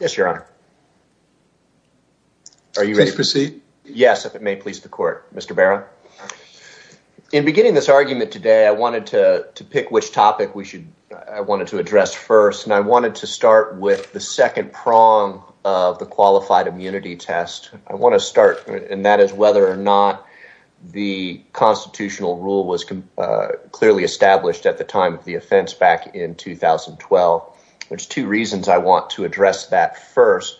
yes your honor are you ready to proceed yes if it may please the court mr. Barron in beginning this argument today I wanted to pick which topic we should I wanted to address first and I wanted to start with the second prong of the qualified immunity test I want to start and that is whether or not the constitutional rule was clearly established at the time of the offense back in 2012 there's two reasons I want to address that first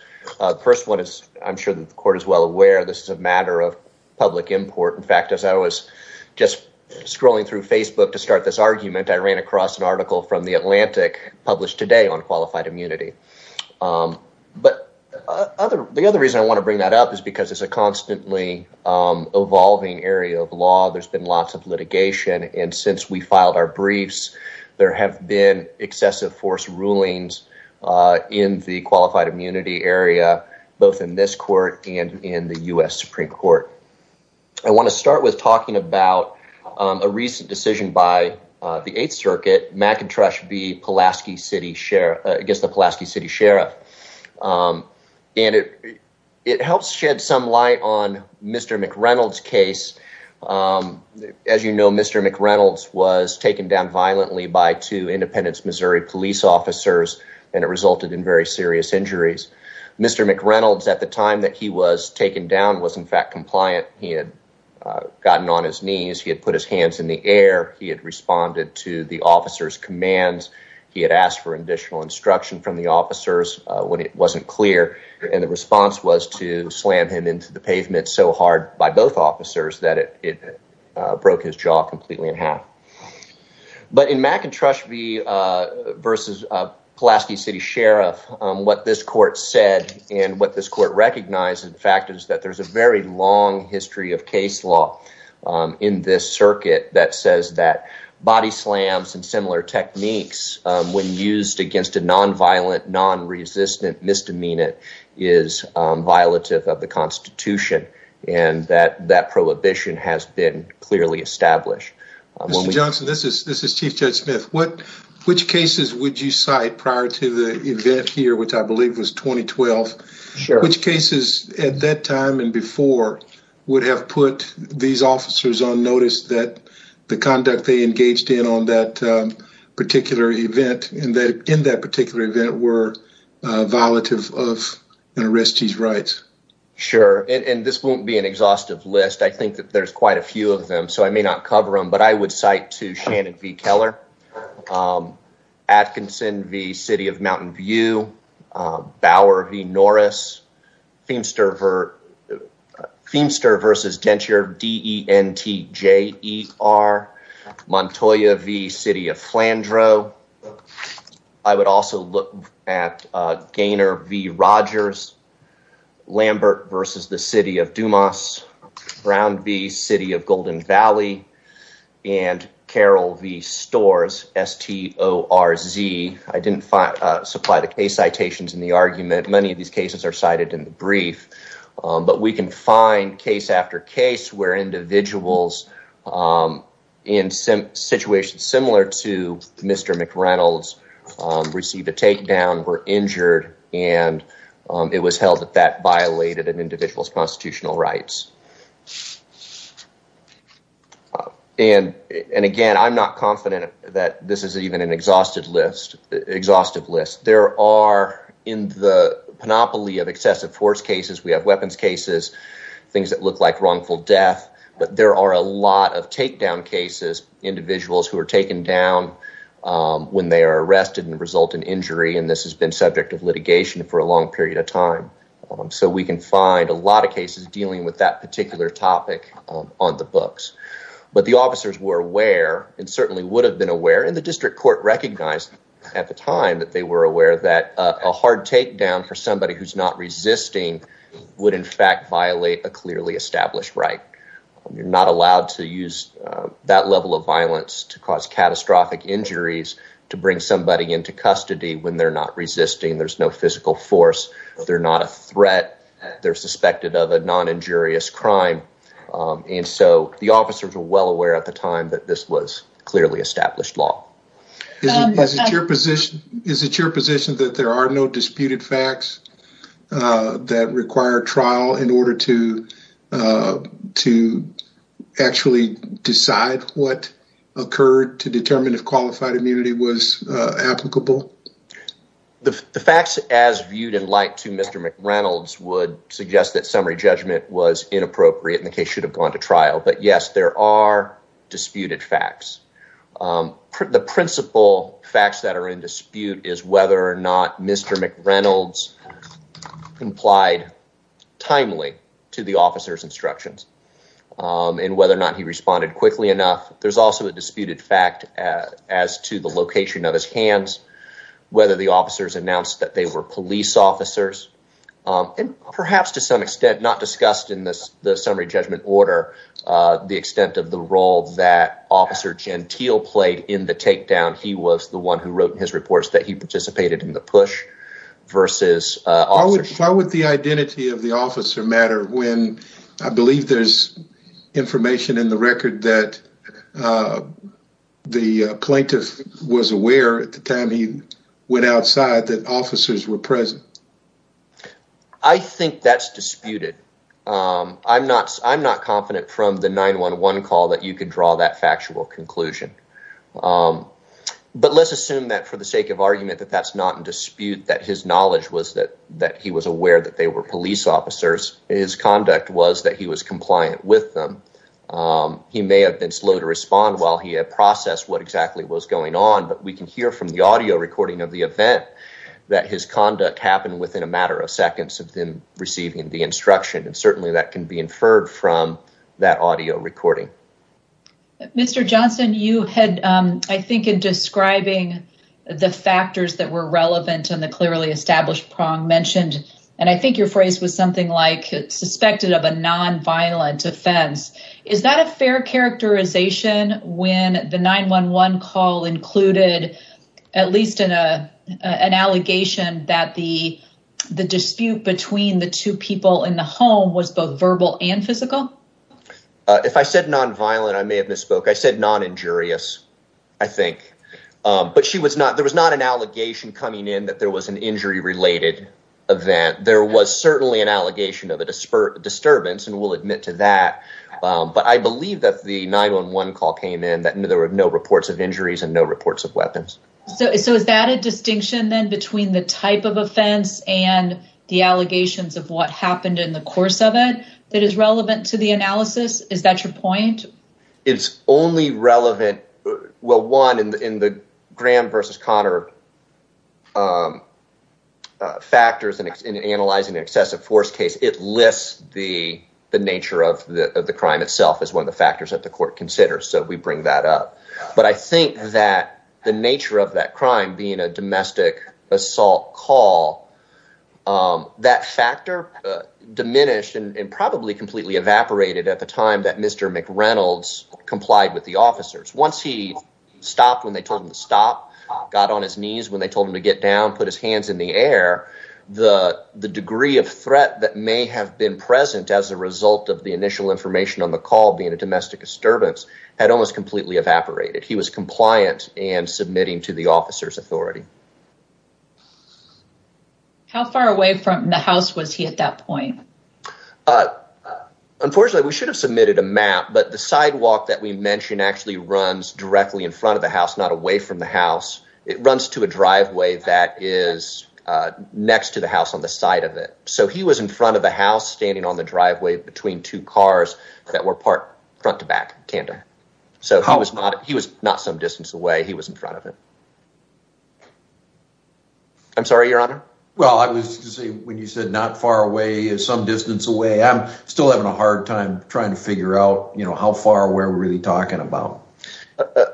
first one is I'm sure that the court is well aware this is a matter of public import in fact as I was just scrolling through Facebook to start this argument I ran across an article from the Atlantic published today on qualified immunity but other the other reason I want to bring that up is because it's a constantly evolving area of law there's been lots of litigation and since we filed our been excessive force rulings in the qualified immunity area both in this court and in the US Supreme Court I want to start with talking about a recent decision by the 8th Circuit McIntosh be Pulaski City Sheriff I guess the Pulaski City Sheriff and it it helps shed some light on mr. McReynolds case as you know mr. McReynolds was taken down violently by two Independence Missouri police officers and it resulted in very serious injuries mr. McReynolds at the time that he was taken down was in fact compliant he had gotten on his knees he had put his hands in the air he had responded to the officers commands he had asked for additional instruction from the officers when it wasn't clear and the response was to slam him into the pavement so hard by both officers that it broke his jaw completely in half but in McIntosh be versus Pulaski City Sheriff what this court said and what this court recognized in fact is that there's a very long history of case law in this circuit that says that body slams and similar techniques when used against a non-violent non-resistant misdemeanant is violative of the Constitution and that that prohibition has been clearly established. Mr. Johnson this is this is Chief Judge Smith what which cases would you cite prior to the event here which I believe was 2012 which cases at that time and before would have put these officers on notice that the conduct they engaged in on that particular event and that in that particular event were violative of an arrestee's rights? Sure and this won't be an exhaustive list I think that there's quite a few of them so I may not cover them but I would cite to Shannon v. Keller, Atkinson v. City of Mountain View, Bower v. Norris, Feimster Feimster versus Dentier, D-E-N-T-J-E-R, Montoya v. City of Flandreau, I would be City of Golden Valley, and Carol v. Storz, S-T-O-R-Z. I didn't supply the case citations in the argument many of these cases are cited in the brief but we can find case after case where individuals in some situations similar to Mr. McReynolds receive a takedown were injured and it was held that that and and again I'm not confident that this is even an exhaustive list exhaustive list there are in the panoply of excessive force cases we have weapons cases things that look like wrongful death but there are a lot of takedown cases individuals who are taken down when they are arrested and result in injury and this has been subject of litigation for a long period of time so we can find a lot of cases dealing with that particular topic on the books but the officers were aware and certainly would have been aware and the district court recognized at the time that they were aware that a hard takedown for somebody who's not resisting would in fact violate a clearly established right you're not allowed to use that level of violence to cause catastrophic injuries to bring somebody into custody when they're not resisting there's no physical force they're not a threat they're suspected of a non injurious crime and so the officers were well aware at the time that this was clearly established law. Is it your position that there are no disputed facts that require trial in order to to actually decide what occurred to Mr. McReynolds would suggest that summary judgment was inappropriate in the case should have gone to trial but yes there are disputed facts the principal facts that are in dispute is whether or not Mr. McReynolds complied timely to the officers instructions and whether or not he responded quickly enough there's also a disputed fact as to the location of his hands whether the police officers and perhaps to some extent not discussed in this the summary judgment order the extent of the role that officer Gentile played in the takedown he was the one who wrote in his reports that he participated in the push versus... Why would the identity of the officer matter when I believe there's information in the record that the plaintiff was aware at the time he went outside that officers were present? I think that's disputed I'm not I'm not confident from the 911 call that you can draw that factual conclusion but let's assume that for the sake of argument that that's not in dispute that his knowledge was that that he was aware that they were police officers his conduct was that he was compliant with them he may have been slow to respond while he had processed what exactly was going on but we can hear from the audio recording of the event that his conduct happened within a matter of seconds of them receiving the instruction and certainly that can be inferred from that audio recording. Mr. Johnson you had I think in describing the factors that were relevant and the clearly established prong mentioned and I think your phrase was something like suspected of a non-violent offense is that a fair characterization when the 911 call included at least in a an allegation that the the dispute between the two people in the home was both verbal and physical? If I said nonviolent I may have misspoke I said non injurious I think but she was not there was not an allegation coming in that there was an injury related event there was certainly an allegation of a disturbance and we'll admit to that but I believe that the 911 call came in that there were no reports of injuries and no reports of weapons. So is that a distinction then between the type of offense and the allegations of what happened in the course of it that is relevant to the analysis is that your point? It's only relevant well one in the Graham versus Connor factors and analyzing excessive force case it lists the the nature of the crime itself as one of the factors that the court considers so we bring that up but I think that the nature of that crime being a domestic assault call that factor diminished and probably completely evaporated at the time that Mr. McReynolds complied with the officers once he stopped when they told him to stop got on his knees when they told him to get down put his hands in the air the the degree of threat that may have been present as a result of the initial information on the call being a domestic disturbance had almost completely evaporated he was compliant and submitting to the officer's authority. How far away from the house was he at that point? Unfortunately we should have submitted a map but the sidewalk that we mentioned actually runs directly in front of the house not away from the house it runs to a driveway that is next to the house on the side of it so he was in front of the house standing on the driveway between two cars that were part front-to-back tandem so he was not he was not some distance away he was in front of it. I'm sorry your honor? Well I was when you said not far away is some distance away I'm still having a hard time trying to figure out you know how far we're really talking about.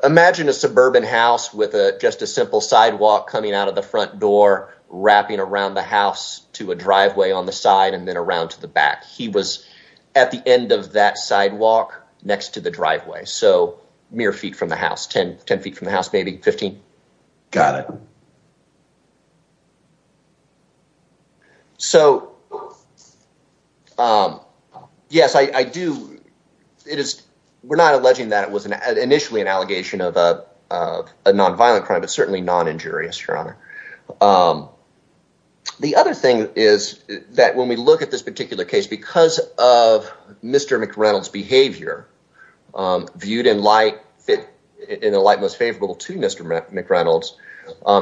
Imagine a suburban house with a just a simple sidewalk coming out of the front door wrapping around the house to a driveway on the side and then around to the back he was at the end of that sidewalk next to the driveway so mere feet from the house 10 10 feet from the house maybe 15. Got it. So yes I do it is we're not alleging that it was an initially an allegation of a nonviolent crime but certainly non injurious your honor. The other thing is that when we look at this particular case because of mr. McReynolds behavior viewed in light fit in the light most favorable to mr. McReynolds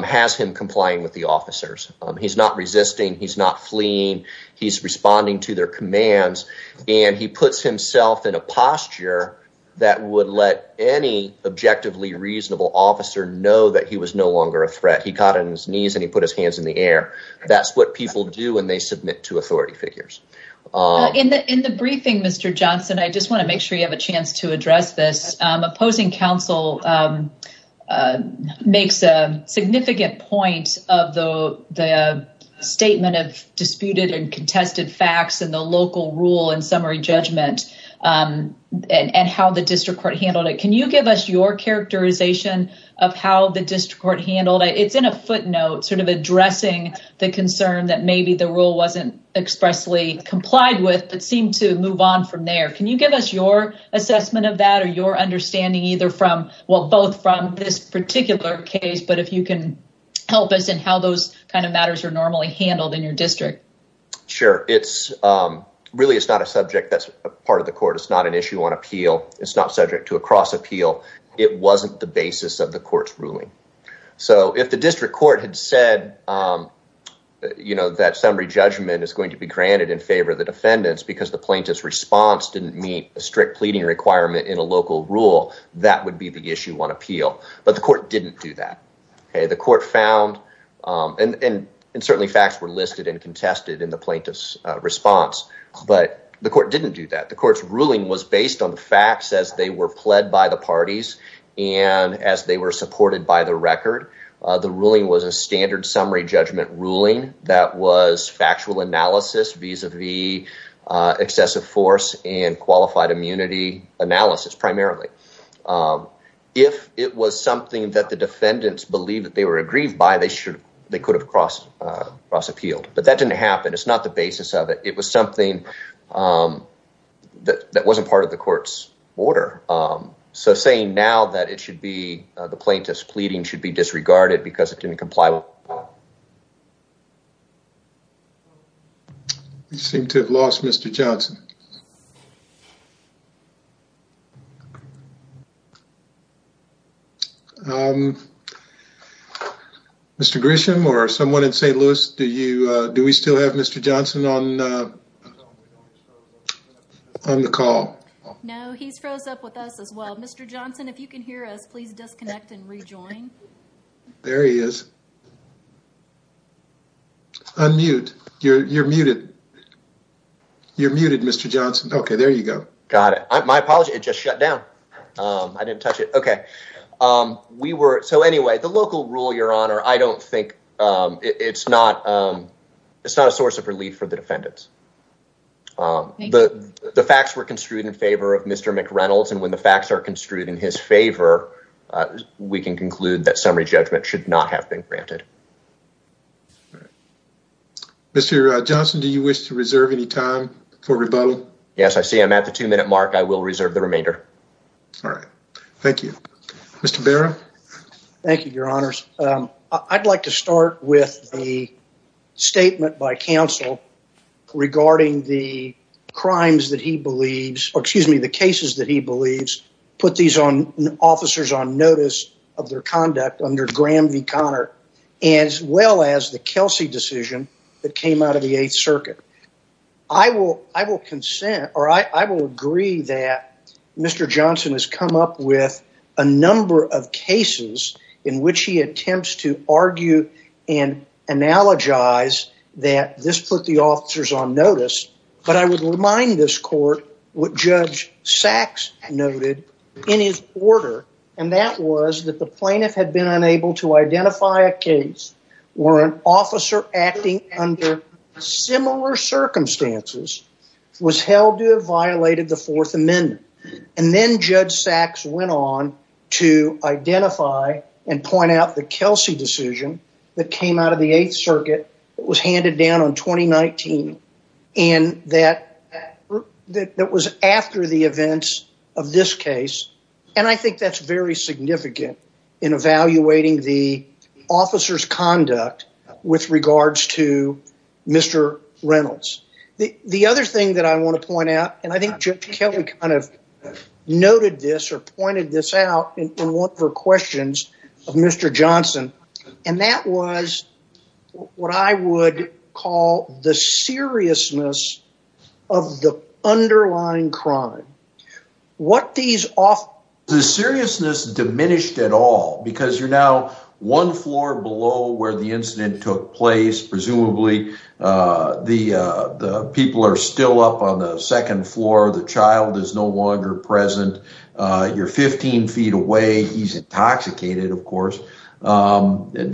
has him complying with the officers he's not resisting he's not fleeing he's responding to their commands and he puts himself in a posture that would let any objectively reasonable officer know that he was no longer a threat he caught in his knees and he put his hands in the air that's what people do when they submit to authority figures. In the briefing Mr. Johnson I just want to make sure you have a chance to address this opposing counsel makes a significant point of the the statement of disputed and contested facts and the local rule and summary judgment and and how the district court handled it can you give us your characterization of how the district court handled it it's in a footnote sort of addressing the concern that maybe the rule wasn't expressly complied with but seemed to move on from there can you give us your assessment of that or your understanding either from well both from this particular case but if you can help us and how those kind of matters are normally handled in your district. Sure it's really it's not a subject that's part of the court it's not an issue on appeal it's not subject to a cross appeal it wasn't the basis of the court's ruling so if the district court had said you know that summary judgment is going to be granted in favor of the defendants because the plaintiff's response didn't meet a strict pleading requirement in a local rule that would be the issue on appeal but the court didn't do that okay the court found and and certainly facts were listed and contested in the plaintiff's response but the court didn't do that the court's ruling was based on the facts as they were pled by the parties and as they were supported by the record the ruling was a standard summary judgment ruling that was factual analysis vis-a-vis excessive force and qualified immunity analysis primarily if it was something that the defendants believe that they were aggrieved by they should they could have crossed cross appealed but that didn't happen it's not the basis of it it was something that that wasn't part of the court's order so saying now that it should be the plaintiff's pleading should be disregarded because it didn't comply well you seem to have lost mr. Johnson mr. Grisham or someone in st. Louis do you do we still have mr. Johnson on the call no he's froze up with us as well mr. Johnson if you can hear us please disconnect and rejoin there he is unmute you're muted you're muted mr. Johnson okay there you go got it my apology it just shut down I didn't touch it okay we were so anyway the local rule your honor I don't think it's not it's not a source of relief for the defendants the the facts were construed in favor of mr. McReynolds and when the facts are construed in his favor we can conclude that summary judgment should not have been granted mr. Johnson do you wish to reserve any time for rebuttal yes I see I'm at the two-minute mark I will reserve the remainder all right thank you mr. Barrow thank you your honors I'd like to start with the regarding the crimes that he believes or excuse me the cases that he believes put these on officers on notice of their conduct under Graham v Connor as well as the Kelsey decision that came out of the Eighth Circuit I will I will consent or I will agree that mr. Johnson has come up with a number of cases in which he on notice but I would remind this court what judge Sachs noted in his order and that was that the plaintiff had been unable to identify a case where an officer acting under similar circumstances was held to have violated the Fourth Amendment and then judge Sachs went on to identify and point out the Kelsey decision that came out of the Eighth Circuit it was handed down on May 1st 2019 and that that was after the events of this case and I think that's very significant in evaluating the officers conduct with regards to mr. Reynolds the the other thing that I want to point out and I think judge Kelly kind of noted this or pointed this out in one of her questions of mr. Johnson and that was what I would call the seriousness of the underlying crime what these off the seriousness diminished at all because you're now one floor below where the incident took place presumably the people are still up on the second floor the child is no longer present you're 15 feet away he's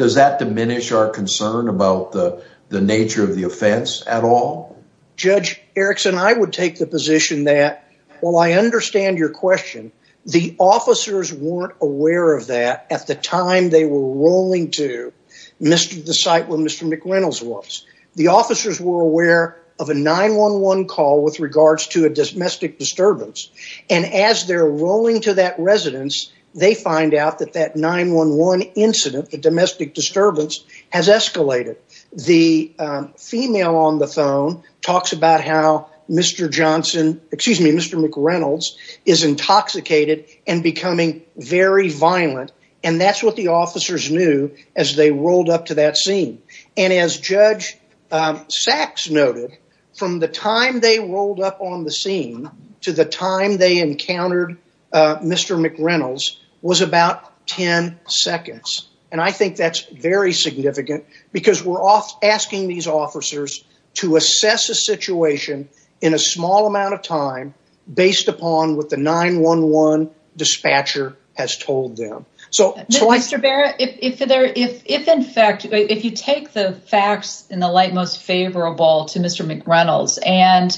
does that diminish our concern about the nature of the offense at all judge Erickson I would take the position that well I understand your question the officers weren't aware of that at the time they were rolling to mr. the site where mr. McReynolds was the officers were aware of a 911 call with regards to a domestic disturbance and as they're rolling to that residence they find out that that 911 incident the domestic disturbance has escalated the female on the phone talks about how mr. Johnson excuse me mr. McReynolds is intoxicated and becoming very violent and that's what the officers knew as they rolled up to that scene and as judge Sachs noted from the time they rolled up on the scene to the time they encountered mr. McReynolds was about 10 seconds and I think that's very significant because we're off asking these officers to assess a situation in a small amount of time based upon what the 911 dispatcher has told them so mr. Barrett if there if in fact if you take the facts in the McReynolds and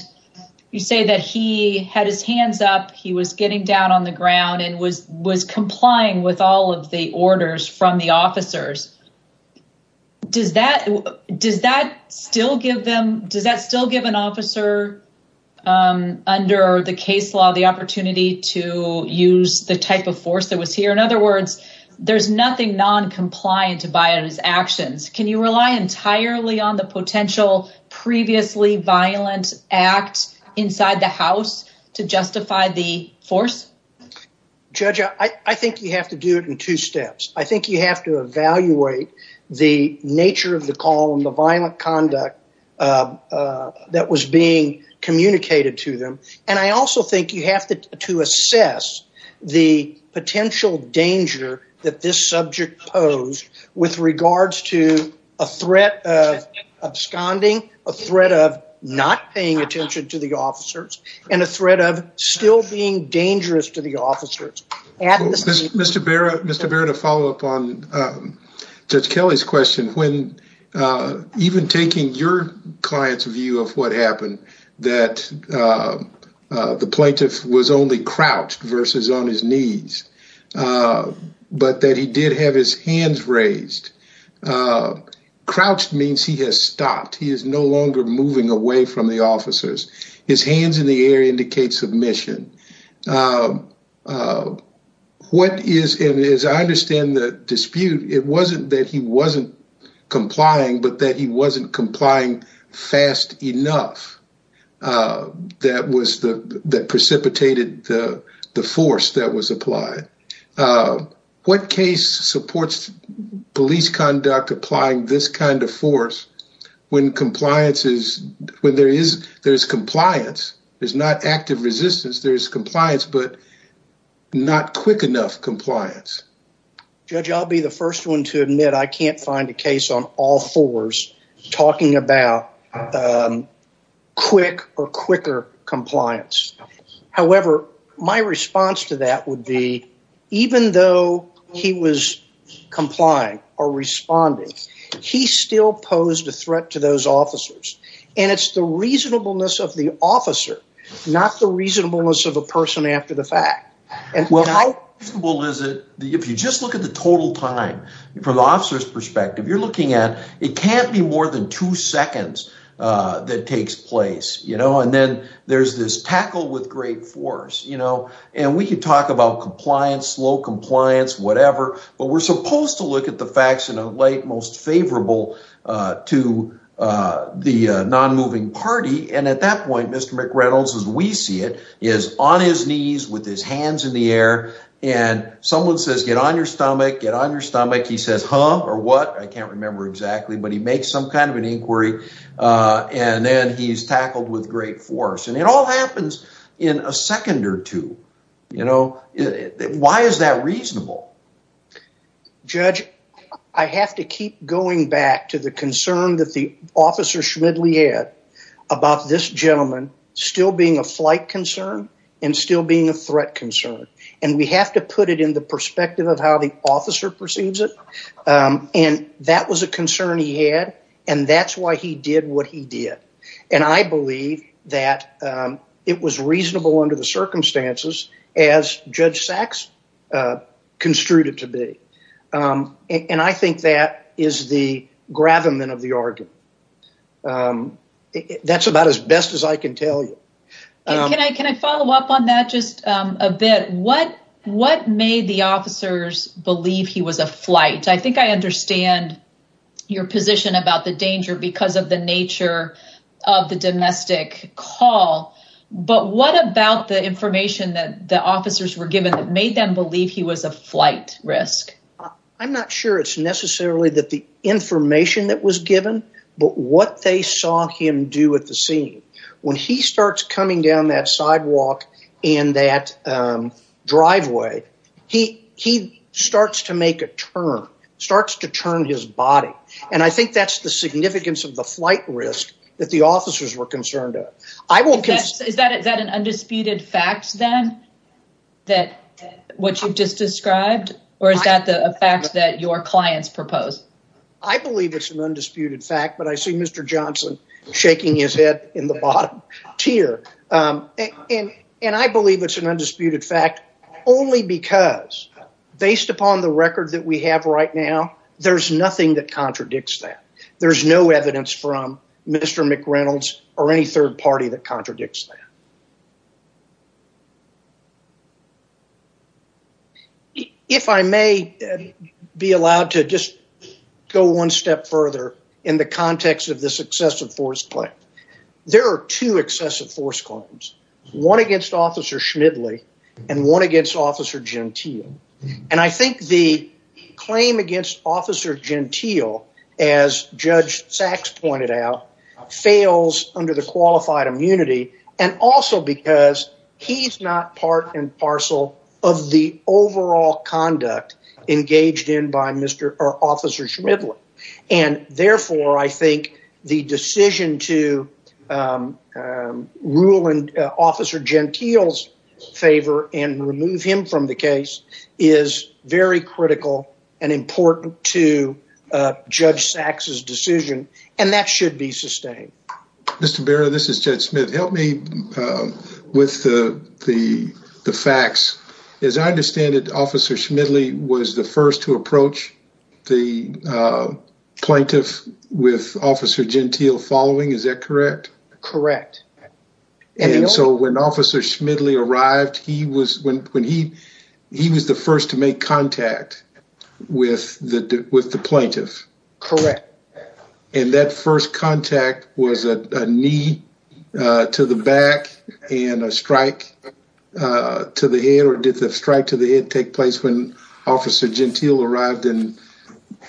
you say that he had his hands up he was getting down on the ground and was was complying with all of the orders from the officers does that does that still give them does that still give an officer under the case law the opportunity to use the type of force that was here in other words there's nothing non-compliant to buy on his actions can you rely entirely on the violent act inside the house to justify the force judge I think you have to do it in two steps I think you have to evaluate the nature of the call and the violent conduct that was being communicated to them and I also think you have to assess the potential danger that this subject pose with regards to a threat of absconding a threat of not paying attention to the officers and a threat of still being dangerous to the officers and mr. Barrett mr. Barrett a follow-up on judge Kelly's question when even taking your clients view of what happened that the plaintiff was only crouched versus on his knees but that he did have his hands raised crouched means he has stopped he is no longer moving away from the officers his hands in the air indicates submission what is it is I understand the dispute it wasn't that he wasn't complying but that he wasn't complying fast enough that was the that precipitated the the force that was applied what case supports police conduct applying this kind of force when compliance is when there is there's compliance there's not active resistance there's compliance but not quick enough compliance judge I'll be the first one to admit I can't find a case on all fours talking about quick or quicker however my response to that would be even though he was complying or responding he still posed a threat to those officers and it's the reasonableness of the officer not the reasonableness of a person after the fact and well how well is it if you just look at the total time from officers perspective you're looking at it can't be more than two seconds that takes place you know and then there's this tackle with great force you know and we could talk about compliance low compliance whatever but we're supposed to look at the facts in a light most favorable to the non-moving party and at that point mr. McReynolds as we see it is on his knees with his hands in the air and someone says get on your stomach get on your stomach he says huh or what I can't remember exactly but he makes some kind of an inquiry and then he's tackled with great force and it all happens in a second or two you know why is that reasonable judge I have to keep going back to the concern that the officer Schmidly had about this gentleman still being a flight concern and still being a threat concern and we have to put it in the perspective of how the officer perceives it and that was a concern he had and that's why he did what he did and I believe that it was reasonable under the circumstances as Judge Sachs construed it to be and I think that is the gravamen of the argument that's about as best as I can tell you can I follow up on that just a bit what made the officers believe he was a flight I think I understand your position about the danger because of the nature of the domestic call but what about the information that the officers were given that made them believe he was a flight risk I'm not sure it's necessarily that the information that was given but what they saw him do at the scene when he starts coming down that sidewalk in that driveway he he starts to make a turn starts to turn his body and I think that's the significance of the flight risk that the officers were concerned at I will kiss is that is that an undisputed facts then that what you've just described or is that the fact that your clients proposed I believe it's an undisputed fact but I see mr. Johnson shaking his head in the bottom tier and and I believe it's an undisputed fact only because based upon the record that we have right now there's nothing that contradicts that there's no evidence from mr. McReynolds or any third party that contradicts that if I may be allowed to just go one step further in the context of this excessive force play there are two excessive force claims one against officer Schmidly and one against officer Gentile and I think the claim against officer Gentile as judge Sachs pointed out fails under the qualified immunity and also because he's not part and parcel of the overall conduct engaged in by mr. or the decision to rule and officer Gentile's favor and remove him from the case is very critical and important to judge Sachs's decision and that should be sustained. Mr. Barrow this is Judge Smith help me with the the facts as I understand it officer Schmidly was the first to approach the plaintiff with officer Gentile following is that correct? Correct. And so when officer Schmidly arrived he was when he he was the first to make contact with the with the plaintiff? Correct. And that first contact was a knee to the back and a strike to the head or did the strike to the head take place when officer Gentile arrived and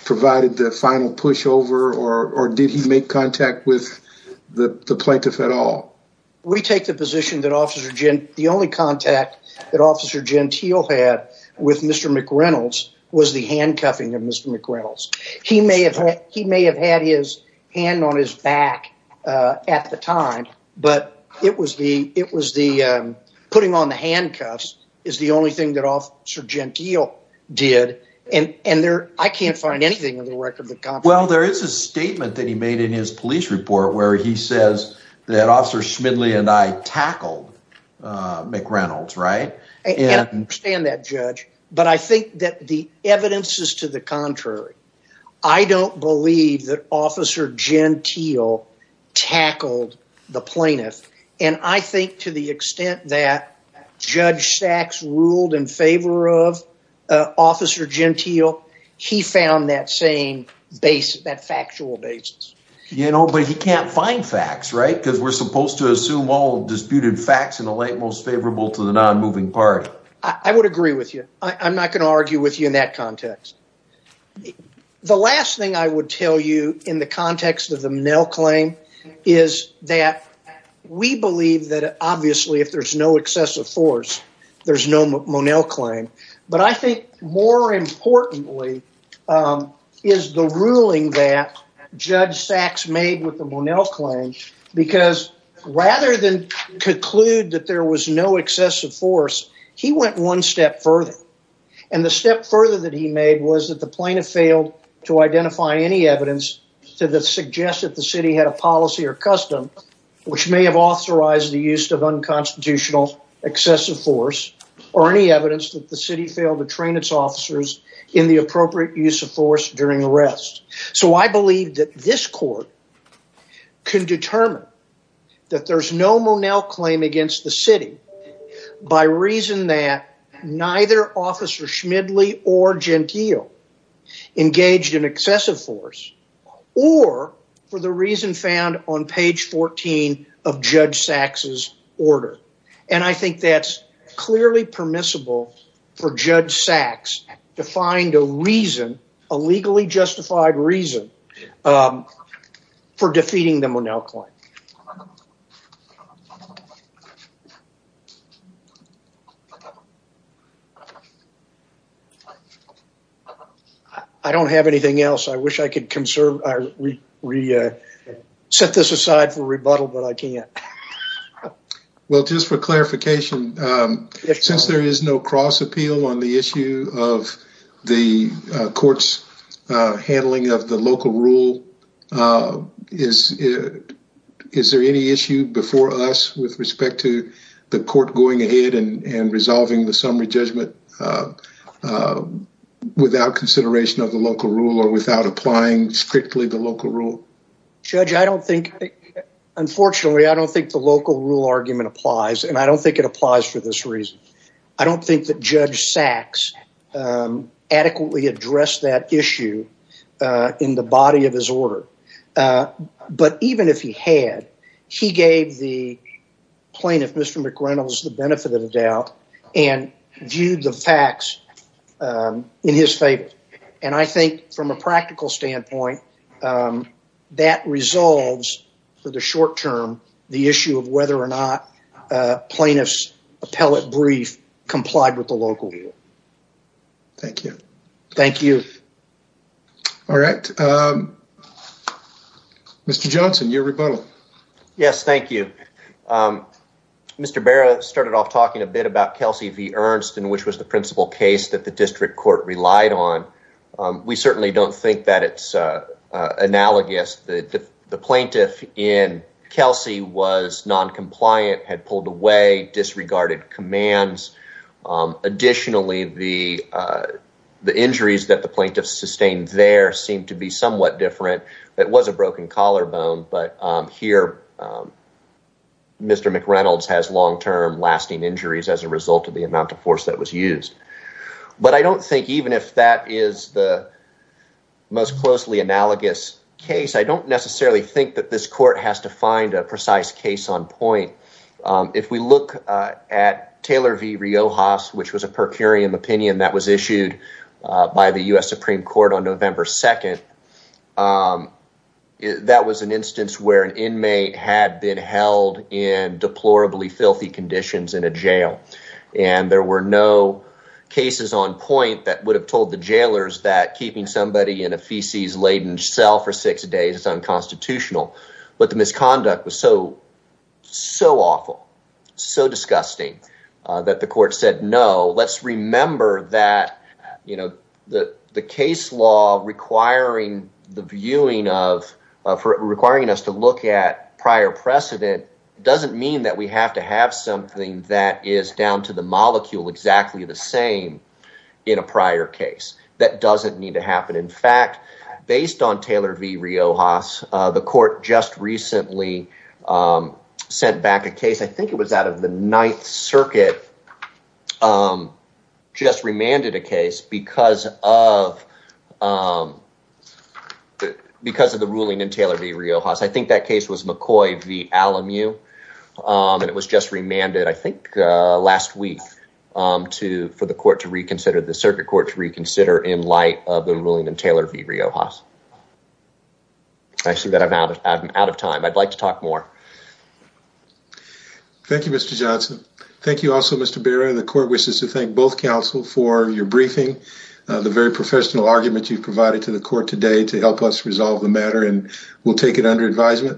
provided the final pushover or did he make contact with the plaintiff at all? We take the position that officer Gentile the only contact that officer Gentile had with mr. McReynolds was the handcuffing of mr. McReynolds he may have he may have had his hand on his back at the time but it was the it was the putting on the handcuffs is the only thing that officer Gentile did and and there I can't find anything in the record. Well there is a statement that he made in his police report where he says that officer Schmidly and I tackled McReynolds right? I understand that judge but I think that the evidence is to the contrary I don't believe that officer Gentile tackled the officer Gentile he found that same base that factual basis. You know but he can't find facts right because we're supposed to assume all disputed facts in the light most favorable to the non-moving party. I would agree with you I'm not going to argue with you in that context. The last thing I would tell you in the context of the Monell claim is that we believe that obviously if there's no excessive force there's no Monell claim but I think more importantly is the ruling that judge Sachs made with the Monell claim because rather than conclude that there was no excessive force he went one step further and the step further that he made was that the plaintiff failed to identify any evidence to the suggest that the city had a policy or custom which may have authorized the use of unconstitutional excessive force or any evidence that the city failed to train its officers in the appropriate use of force during arrest. So I believe that this court can determine that there's no Monell claim against the city by reason that neither officer Schmidly or Gentile engaged in judge Sachs's order and I think that's clearly permissible for judge Sachs to find a reason, a legally justified reason for defeating the Monell claim. I don't have anything else I wish I could conserve, set this aside for Well just for clarification since there is no cross appeal on the issue of the court's handling of the local rule is it is there any issue before us with respect to the court going ahead and resolving the summary judgment without consideration of the local rule or without applying strictly the local rule? Judge I don't think unfortunately I don't think the local rule argument applies and I don't think it applies for this reason. I don't think that judge Sachs adequately addressed that issue in the body of his order but even if he had he gave the plaintiff Mr. McReynolds the benefit of the doubt and viewed the facts in his favor and I think from a practical standpoint that resolves for the short term the issue of whether or not plaintiffs appellate brief complied with the local rule. Thank you. Thank you. All right Mr. Johnson your rebuttal. Yes thank you. Mr. Barrett started off talking a bit about Kelsey v. Ernst and which was the principal case that the district court relied on. We certainly don't think that it's analogous that the plaintiff in Kelsey was non-compliant had pulled away disregarded commands. Additionally the injuries that the plaintiff sustained there seemed to be somewhat different. It was a broken collarbone but here Mr. McReynolds has long-term lasting injuries as a result of the amount of force that was used. But I don't think even if that is the most closely analogous case I don't necessarily think that this court has to find a precise case on point. If we look at Taylor v. Riojas which was a per curiam opinion that was issued by the US Supreme Court on November 2nd that was an instance where an inmate had been held in deplorably filthy conditions in a jail and there were no cases on point that would have told the jailers that keeping somebody in a feces laden cell for six days is unconstitutional. But the misconduct was so so awful so disgusting that the court said no let's remember that you know that the case law requiring the viewing of for requiring us to look at prior precedent doesn't mean that we have to have something that is down to the molecule exactly the same in a prior case. That doesn't need to happen in fact based on Taylor v. Riojas the court just recently sent back a case I think it was out of the Ninth Circuit just remanded a case because of because of the ruling in Taylor v. Riojas. I think that case was McCoy v. Alamu and it was just remanded I think last week to for the court to reconsider the circuit court to reconsider in light of the ruling in Taylor v. Riojas. I see that I'm out of time I'd like to talk more. Thank you Mr. Johnson. Thank you also Mr. Barron the court wishes to thank both counsel for your briefing the very professional argument you've provided to the court today to help us resolve the matter and we'll take it under advisement.